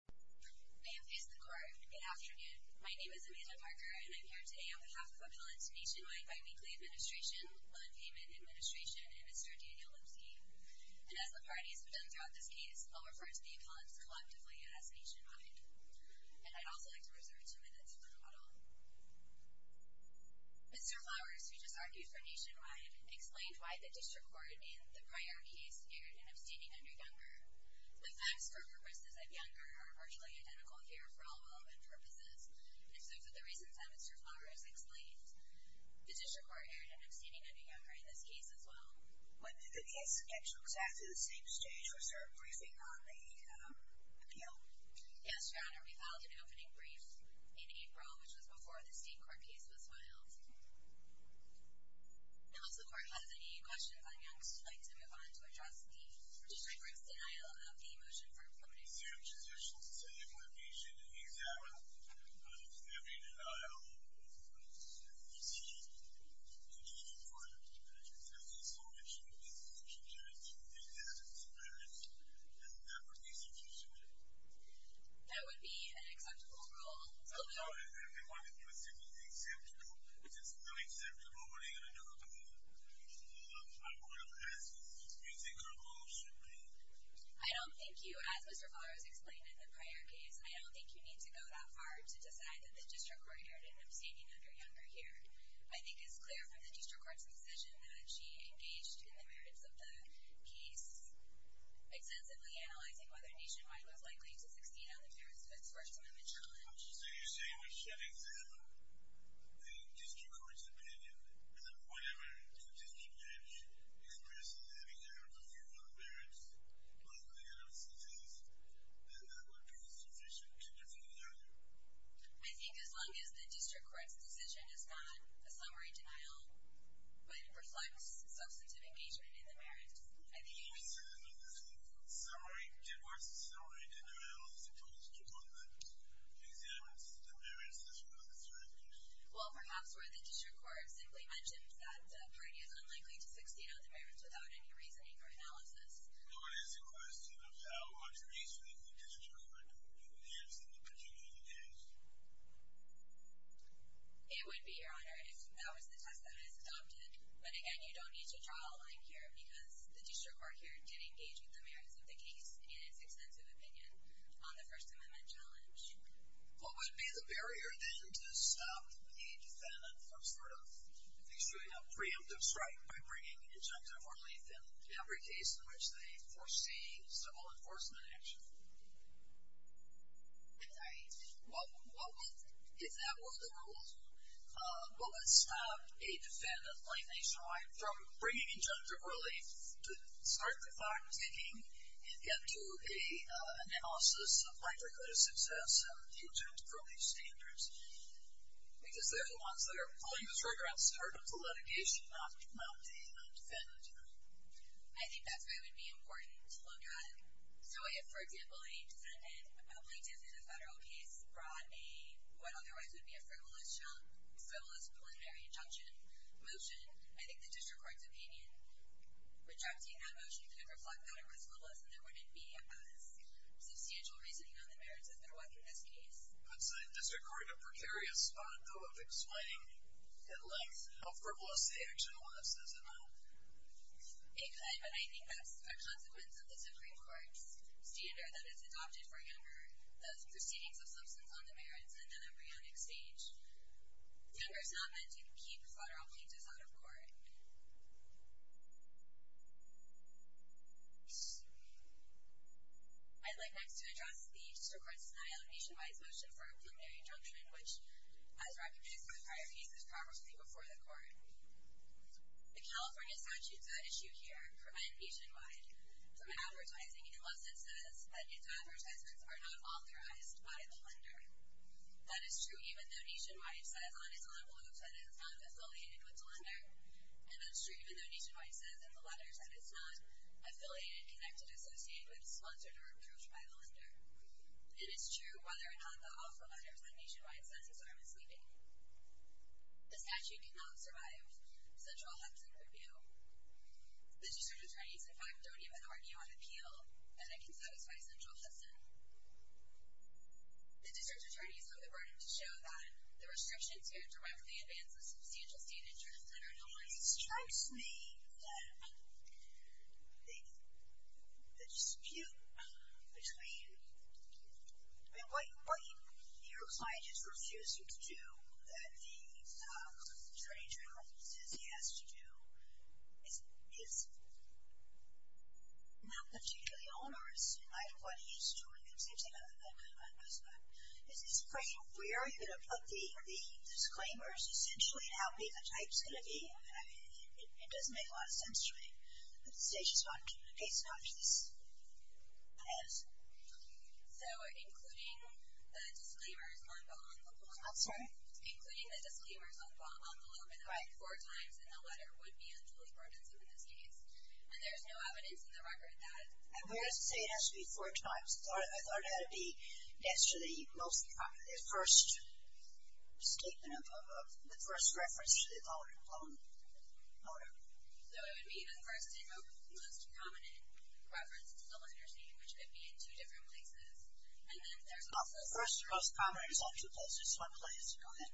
Good afternoon. My name is Amanda Parker, and I'm here today on behalf of Appellants Nationwide Bi-Weekly Administration, Loan Payment Administration, and Mr. Daniel Lipsky. And as the parties have done throughout this case, I'll refer to the appellants collectively as Nationwide. And I'd also like to reserve two minutes for the model. Mr. Flowers, who just argued for Nationwide, explained why the District Court in the prior case erred in abstaining under Younger. The facts for purposes of Younger are virtually identical here for all relevant purposes, and so for the reasons Mr. Flowers explained, the District Court erred in abstaining under Younger in this case as well. When did the case get to exactly the same stage? Was there a briefing on the appeal? Yes, Your Honor, we filed an opening brief in April, which was before the State Court case was filed. Now, if the Court has any questions on Younger, would you like to move on to address the District Court's denial of the motion for appeal? Sam's position is to include a patient in the exam. But if there'd been a denial of a patient in the exam, the District Court of Appellate Justice would still issue a case in which a patient is in the exam, and that would be sufficient. That would be an acceptable rule. I'm sorry, I didn't want to do a simple acceptable. If it's not acceptable, what are you going to do about it? I'm going to ask what you think our rule should be. I don't think you, as Mr. Flowers explained in the prior case, I don't think you need to go that far to decide that the District Court erred in abstaining under Younger here. I think it's clear from the District Court's decision that she engaged in the merits of the case, extensively analyzing whether Nationwide was likely to succeed on the merits of its First Amendment challenge. So you're saying we should examine the District Court's opinion, and then whatever the District Judge expresses having erred over one of the merits of the NLCC's, then that would be sufficient to defend the other? I think as long as the District Court's decision is not a summary denial, but reflects substantive engagement in the merits, I think it's sufficient. What's the summary denial as opposed to one that examines the merits as well as the evidence? Well, perhaps where the District Court simply mentions that the party is unlikely to succeed on the merits without any reasoning or analysis. No, it is a question of how much reasoning the District Court has in the particular case. It would be, Your Honor, if that was the test that is adopted. But again, you don't need to draw a line here because the District Court here did engage with the merits of the case in its extensive opinion on the First Amendment challenge. What would be the barrier, then, to stop a defendant from sort of issuing a preemptive strike by bringing injunction or relief in every case in which they foresee civil enforcement action? I'm sorry. What would, if that were the rule, what would stop a defendant, like nationwide, from bringing injunctive relief to start the clock ticking and get to an analysis of likelihood of success and the injunctive relief standards? Because they're the ones that are pulling the trigger on the start of the litigation, not the defendant. I think that's where it would be important to look at it. So if, for example, a defendant, a public defendant in a federal case, brought what otherwise would be a frivolous preliminary injunction motion, I think the District Court's opinion rejecting that motion could reflect that it was frivolous and there wouldn't be as substantial reasoning on the merits as there was in this case. It puts the District Court in a precarious spot, though, of explaining in length how frivolous the action was, does it not? It could, but I think that's a consequence of the Supreme Court's standard that it's adopted for younger, the proceedings of substance on the merits and then embryonic stage. Younger is not meant to keep federal plaintiffs out of court. I'd like next to address the District Court's denial of a nationwide motion for a preliminary injunction, which, as recognized in the prior cases, progressively before the Court. The California statutes at issue here prevent Nationwide from advertising unless it says that its advertisements are not authorized by the lender. That is true even though Nationwide says on its envelopes that it's not affiliated with the lender, and that's true even though Nationwide says in the letters that it's not affiliated, connected, associated with, sponsored, or approved by the lender. And it's true whether or not the offer letters that Nationwide sends us are misleading. The statute cannot survive a central Hudson review. The district attorneys, in fact, don't even argue on appeal that it can satisfy central Hudson. The district attorneys have the burden to show that the restrictions here directly advance the substantial state interests that are normalized in the statute. It strikes me that the dispute between what your client is refusing to do, that the attorney general says he has to do, is not particularly onerous, in light of what he's doing. Is this a question of where are you going to put the disclaimers, essentially, and how big a type is going to be? I mean, it doesn't make a lot of sense to me. But the statute is not giving a case in which this is. So, including the disclaimers on the envelope, I'm sorry? Including the disclaimers on the envelope, in fact, four times in the letter, would be a duly burdensome in this case. And there's no evidence in the record that I'm going to say it has to be four times. I thought it had to be next to the first statement, the first reference to the loan. So it would be the first and most prominent reference to the lender's name, which could be in two different places. And then there's also... The first and most prominent is on two places, one place. Go ahead.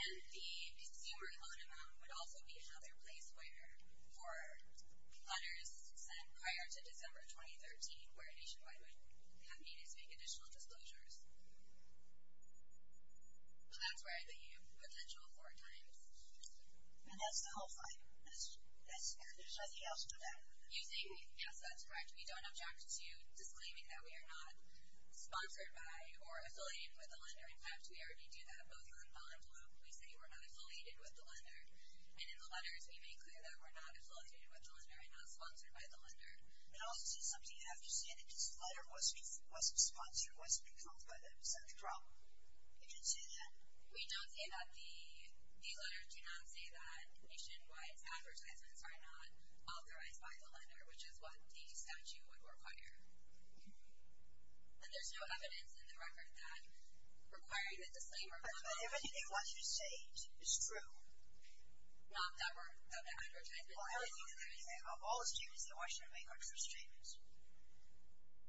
And the consumer loan amount would also be how their place where four letters sent prior to December 2013, where nationwide would have needed to make additional disclosures. So that's where I think you have potential four times. And that's the whole five. Is there anything else to that? You say, yes, that's correct. We don't object to disclaiming that we are not sponsored by or affiliated with the lender. In fact, we already do that both on envelope. We say we're not affiliated with the lender. And in the letters, we make clear that we're not affiliated with the lender and not sponsored by the lender. It also says something you have to say, that this letter wasn't sponsored, wasn't compiled by them. Is that the problem? It didn't say that? We don't say that. These letters do not say that nationwide advertisements are not authorized by the lender, which is what the statute would require. And there's no evidence in the record that requiring But everything they want you to say is true. Not that the advertisements are not authorized. Of all the statements, they're the ones you make are true statements.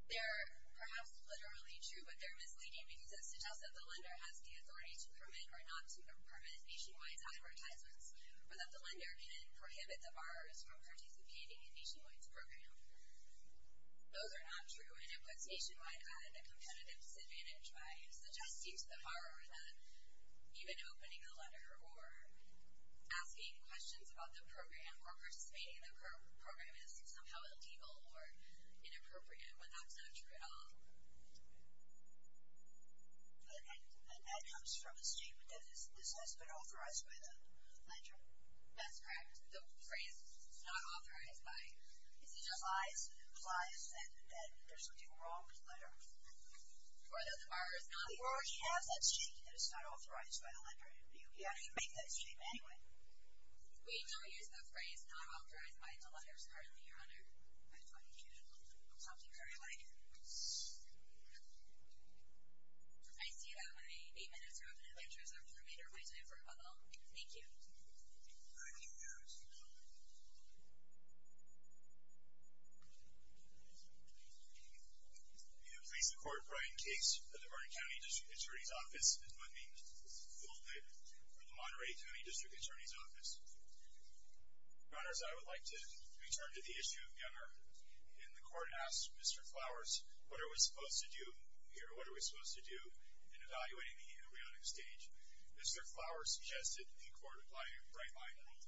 They're perhaps literally true, but they're misleading because it suggests that the lender has the authority to permit or not to permit nationwide advertisements or that the lender can prohibit the borrowers from participating in nationwide's program. Those are not true. And it puts nationwide at a competitive disadvantage by suggesting to the borrower that even opening a letter or asking questions about the program or participating in the program is somehow illegal or inappropriate, when that's not true at all. And that comes from a statement that this has been authorized by the lender? That's correct. The phrase is not authorized by the lender. It implies that there's something wrong with the letter. Or that the borrower has that statement that it's not authorized by the lender, and you can't even make that statement anyway. We don't use the phrase not authorized by the lender, certainly, Your Honor. I thought you did. Something very like... I see that my eight minutes are up, and I'd like to reserve the remainder of my time for a bubble. Thank you. Thank you very much. Thank you. Please support Brian Case at the Vernon County District Attorney's Office and let me hold it for the Monterey County District Attorney's Office. Your Honors, I would like to return to the issue of Gunnar. And the court asked Mr. Flowers, what are we supposed to do here? What are we supposed to do in evaluating the embryonic stage? Mr. Flowers suggested the court apply a bright-line rule.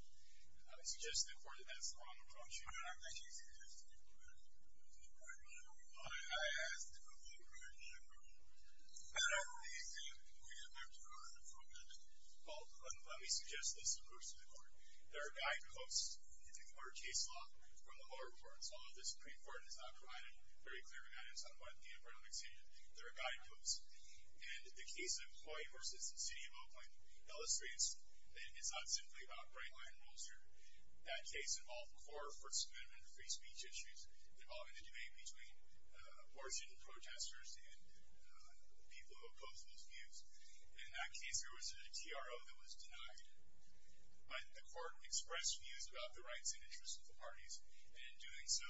I suggest to the court that that's the wrong approach. Well, let me suggest this approach to the court. There are guideposts in our case law from the lower courts. Although the Supreme Court has not provided very clear guidance on what the embryonic stage is, there are guideposts. And the case of Hawaii versus the city of Oakland illustrates that it's not simply about bright-line rules here. That case involved core First Amendment free speech issues, involving the debate between abortion protesters and people who opposed those views. In that case, there was a TRO that was denied. But the court expressed views about the rights and interests of the parties, and in doing so,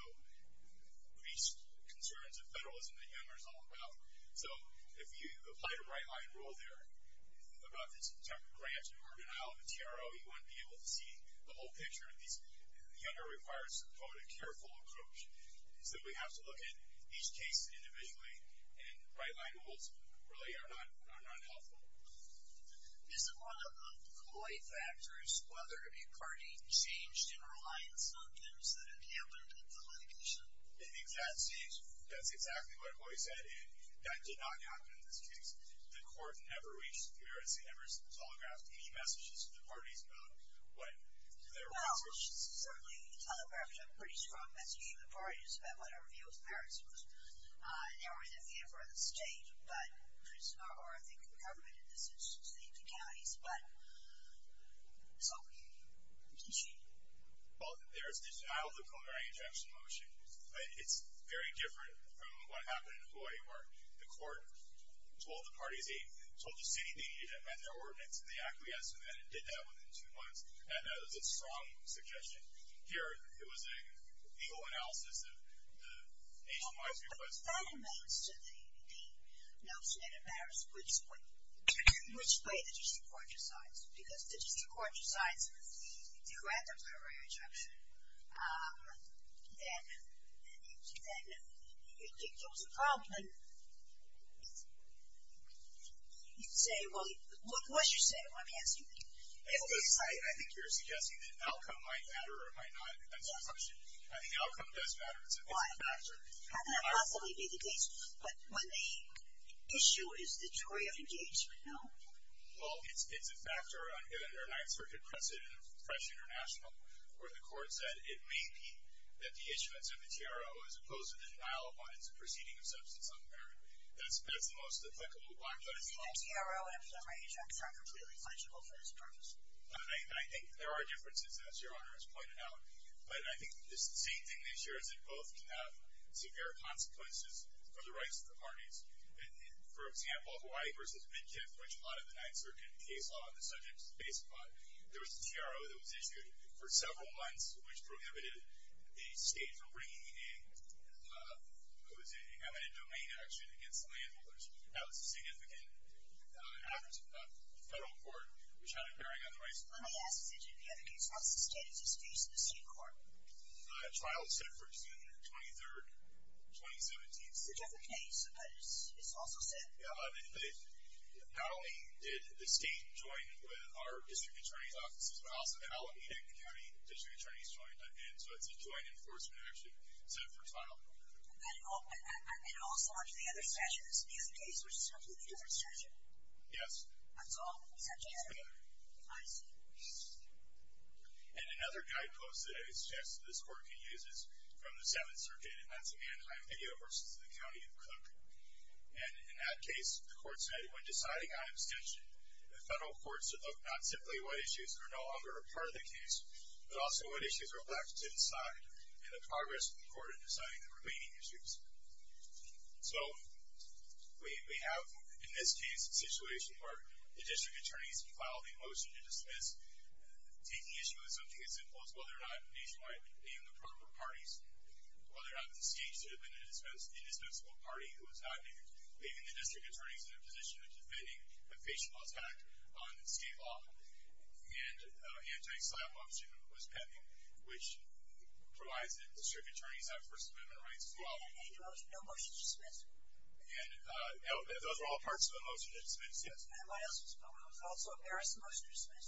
reached concerns of federalism that Gunnar is all about. So if you applied a bright-line rule there, about the September grant, or denial of a TRO, you wouldn't be able to see the whole picture of these. Gunnar requires, quote, a careful approach. So we have to look at each case individually, and bright-line rules really are not helpful. Isn't one of the ploy factors whether a party changed in reliance on things that had happened in the litigation? I think that's exactly what Hawaii said, and that did not happen in this case. The court never reached the merits. It never telegraphed any messages to the parties about what their rights were. Well, certainly telegraphed a pretty strong message to the parties about what her view of the merits was. They were in a view for the state, but it's not, or I think the government, in this instance, the counties. But, so, did she? Well, there is the denial of the primary injunction motion. It's very different from what happened in Hawaii where the court told the parties they told the city they needed to amend their ordinance, and they acquiesced, and then did that within two months. And that was a strong suggestion. Here, it was a legal analysis of the nationwide request. Well, but that relates to the notion that it matters which way the district court decides. Because the district court decides to grant the primary injunction, then it gives a problem. You'd say, well, what's your say? Let me ask you. I think you're suggesting that outcome might matter or might not. I think outcome does matter. It's a factor. How can that possibly be the case? But when the issue is the jury of engagement, no? Well, it's a factor. Under the Ninth Circuit precedent of Fresh International, where the court said it may be that the issuance of the TRO as opposed to the denial of one is a proceeding of substance unbearable. That's the most applicable one. The TRO and the primary injunction are completely legible for this purpose. I think there are differences, as Your Honor has pointed out. But I think the same thing this year is that both can have severe consequences for the rights of the parties. For example, Hawaii v. Midkiff, which a lot of the Ninth Circuit case law on the subject is based upon, there was a TRO that was issued for several months, which prohibited a state from bringing in what was an eminent domain action against the landowners. That was a significant act of the federal court, which had a bearing on the rights of the landowners. Let me ask you, J.J., in the other case, what's the state of disputes in the state court? Trials set for June 23, 2017. It's a different case, but it's also set. Not only did the state join with our district attorney's offices, but also the Alameda County district attorney's joined, and so it's a joint enforcement action set for trial. And also under the other statute, this is a case which is a completely different statute? Yes. That's all? That's all there. I see. And another guidepost that I suggest this court can use is from the Seventh Circuit, and that's a Mannheim video versus the County of Cook. And in that case, the court said, when deciding on abstention, the federal courts are not simply what issues are no longer a part of the case, but also what issues are left to decide and the progress of the court in deciding the remaining issues. So we have, in this case, a situation where the district attorneys can file the motion to dismiss, taking issue with something as simple as whether or not these might be in the proper parties, whether or not the state should have been the indispensable party who was not making the district attorneys in a position of defending a facial attack on state law. And an anti-slap motion was pending, which provides that district attorneys have First Amendment rights to file a motion. No motion to dismiss? And those are all parts of the motion to dismiss, yes. And what else was filed? Was also a Paris motion to dismiss?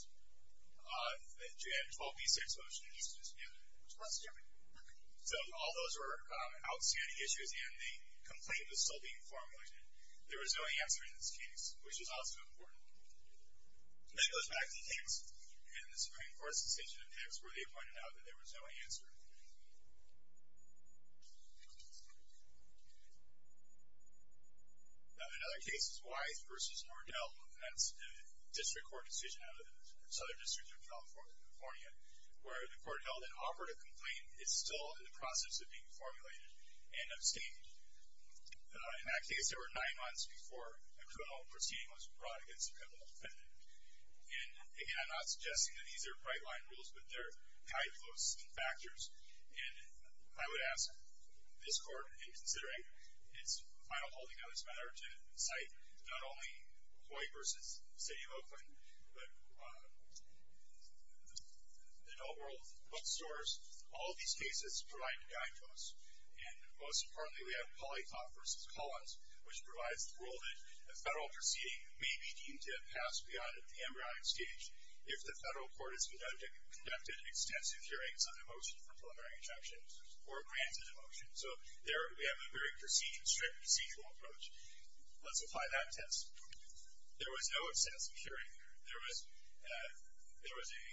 And 12b-6 motion to dismiss, yes. So all those were outstanding issues, and the complaint was still being formulated. There was no answer in this case, which is also important. And that goes back to Hicks. In the Supreme Court's decision in Hicks, where they pointed out that there was no answer. Now, another case is Wise v. Nordell, and that's a district court decision out of Southern Districts of California, where the court held an operative complaint is still in the process of being formulated and abstained. In that case, there were nine months before a criminal proceeding was brought against a criminal defendant. And, again, I'm not suggesting that these are bright-line rules, but they're high-floating factors. And I would ask this court, in considering its final holding on this matter, to cite not only Hawaii v. City of Oakland, but the Delworld bookstores, all of these cases provide a guide to us. And, most importantly, we have Politoff v. Collins, which provides the rule that a federal proceeding may be deemed to have passed beyond the embryonic stage if the federal court has conducted extensive hearings on a motion for preliminary injunction or granted a motion. So there we have a very strict procedural approach. Let's apply that test. There was no extensive hearing. There was a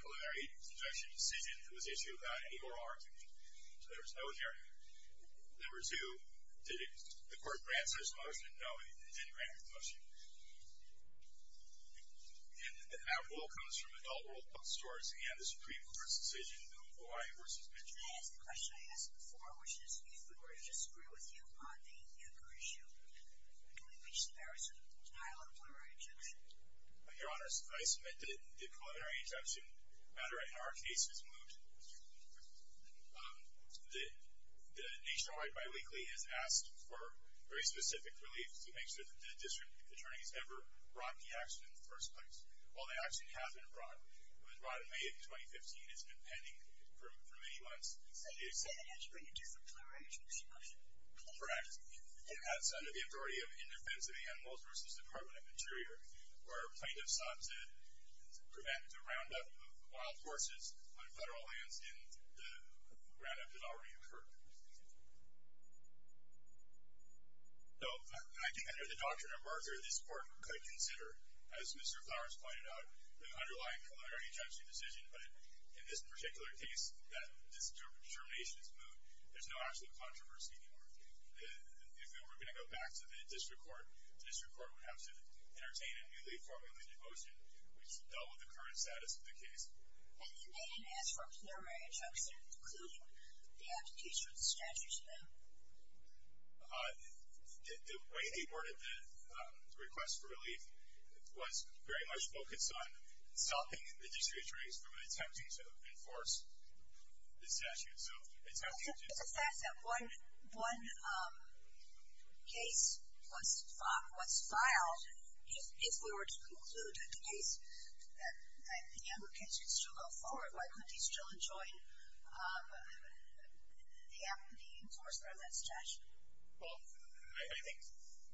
preliminary injunction decision that was issued without any oral argument. So there was no hearing. Number two, did the court grant such a motion? No, it didn't grant such a motion. And that rule comes from Delworld bookstores and the Supreme Court's decision in Hawaii v. Mitchell. Can I ask a question I asked before, which is if the court disagreed with you on the anchor issue, can we reach the merits of denial of preliminary injunction? Your Honor, I submit that the preliminary injunction matter in our case is moot. The nationwide biweekly has asked for very specific relief to make sure that the district attorney has never brought the action in the first place. Well, the action has been brought. It was brought in May of 2015. It's been pending for many months. So you said it has to bring a different preliminary injunction? Correct. It has under the authority of Indefensive Animals v. Department of Interior, where plaintiffs sought to prevent the roundup of wild horses on federal lands in the roundup that already occurred. So I think under the doctrine of Mercer, this court could consider, as Mr. Flowers pointed out, the underlying preliminary injunction decision, but in this particular case, that this determination is moot. There's no actual controversy anymore. If we were going to go back to the district court, the district court would have to entertain a newly formulated motion, which dealt with the current status of the case. And they didn't ask for a preliminary injunction, including the application of the statute to them? The way they worded the request for relief from attempting to enforce the statute. It's a fact that one case was filed. If we were to conclude the case, that the Younger case could still go forward, why couldn't he still enjoin the enforcement of that statute? Well, I think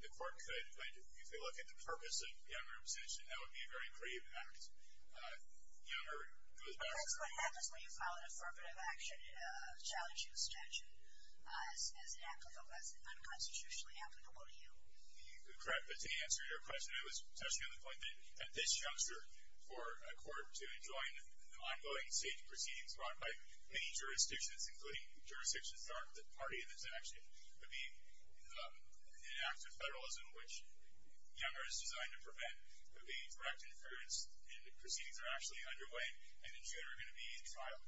the court could. If you look at the purpose of Younger's decision, that would be a very grave act. That's what happens when you file an affirmative action challenging a statute as unconstitutionally applicable to you. To answer your question, it was touching on the point that at this juncture, for a court to enjoin ongoing state proceedings brought by many jurisdictions, including jurisdictions that aren't the party in this action, would be an act of federalism, which Younger is designed to prevent, would be direct inference, and the proceedings are actually underway, and in June are going to be in trial.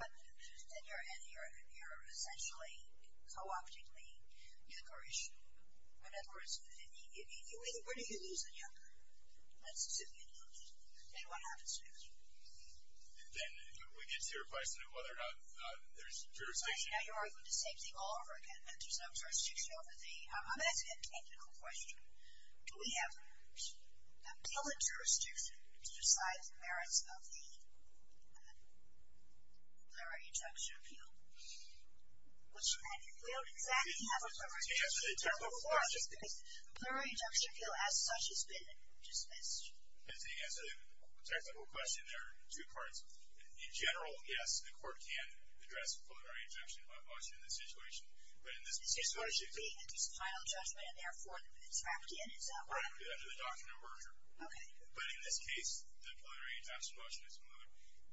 But then you're essentially co-opting the Younger issue. In other words, where do you lose the Younger? Let's assume you lose it. Then what happens to Younger? Then we get to your question of whether or not there's jurisdiction. Now you're arguing the same thing all over again, that there's no jurisdiction over the... I'm going to ask you a technical question. Do we have the ability, jurisdiction, to decide the merits of the plenary injunction appeal? We don't exactly have a plenary injunction appeal. The plenary injunction appeal, as such, has been dismissed. To answer the technical question, there are two parts. In general, yes, the court can address plenary injunction much in this situation, but in this case... This court should be at its final judgment and therefore it's wrapped in, is that right? Under the doctrine of merger. Okay. But in this case, the plenary injunction motion is removed.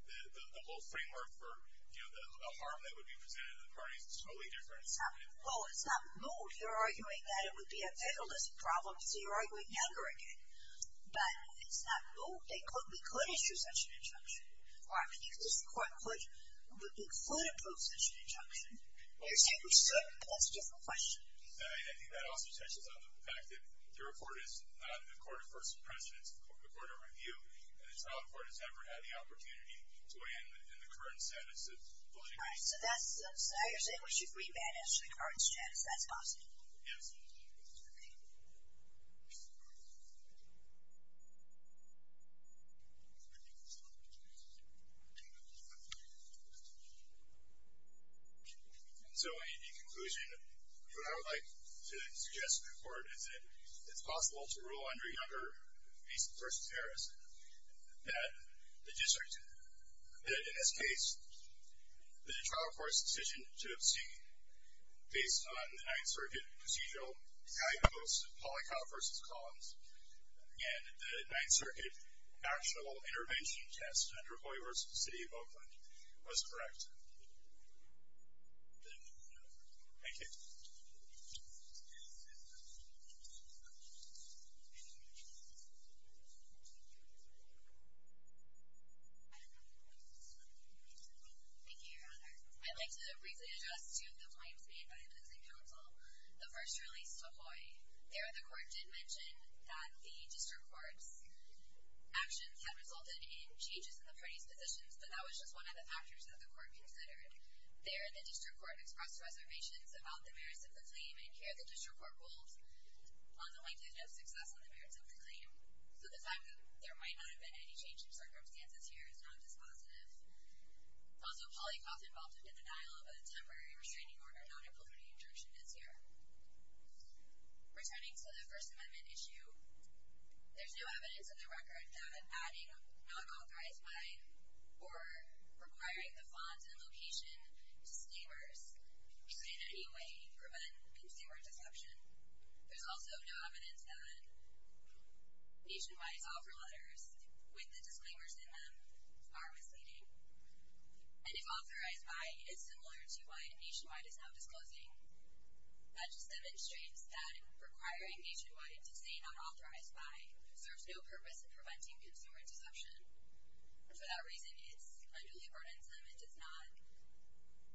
The whole framework for a harm that would be presented to the parties is totally different. Well, it's not moved. You're arguing that it would be a federalist problem, so you're arguing Younger again. But it's not moved. We could issue such an injunction. I mean, this court could... We could approve such an injunction. You're saying we shouldn't, but that's a different question. I think that also touches on the fact that the report is not in the court of first precedence, the court of review, and the trial court has never had the opportunity to weigh in the current status of... So you're saying we should re-manage the current status. That's possible. Yes. So, in conclusion, what I would like to suggest to the court is that it's possible to rule under Younger v. Harris that the district... that in this case, the trial court's decision to obscene based on the Ninth Circuit procedural high-cost polycount versus columns and the Ninth Circuit actual intervention test under Hoye v. City of Oakland was correct. Thank you. Any other questions? Thank you, Your Honor. I'd like to briefly address two of the claims made by the housing council. The first release to Hoye. There, the court did mention that the district court's actions had resulted in changes in the parties' positions, but that was just one of the factors that the court considered. There, the district court expressed reservations about the merits of the claim, and here, the district court rules on the plaintiff's success on the merits of the claim. So the fact that there might not have been any change in circumstances here is not dispositive. Also, polycounts involved in the denial of a temporary restraining order, not a preliminary injunction, is here. Returning to the First Amendment issue, there's no evidence in the record that adding not authorized by or requiring the font and location disclaimers could in any way prevent consumer deception. There's also no evidence that Nationwide's offer letters with the disclaimers in them are misleading. And if authorized by is similar to why Nationwide is not disclosing, that just demonstrates that requiring Nationwide to say not authorized by serves no purpose in preventing consumer deception. For that reason, it's unduly burdensome and does not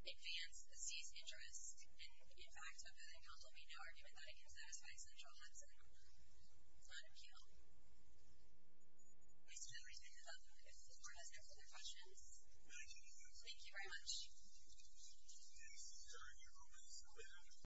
advance the city's interest in, in fact, a voting council. We have no argument that it can satisfy central Hudson on appeal. We still need to think about this if the court has no further questions. Thank you very much.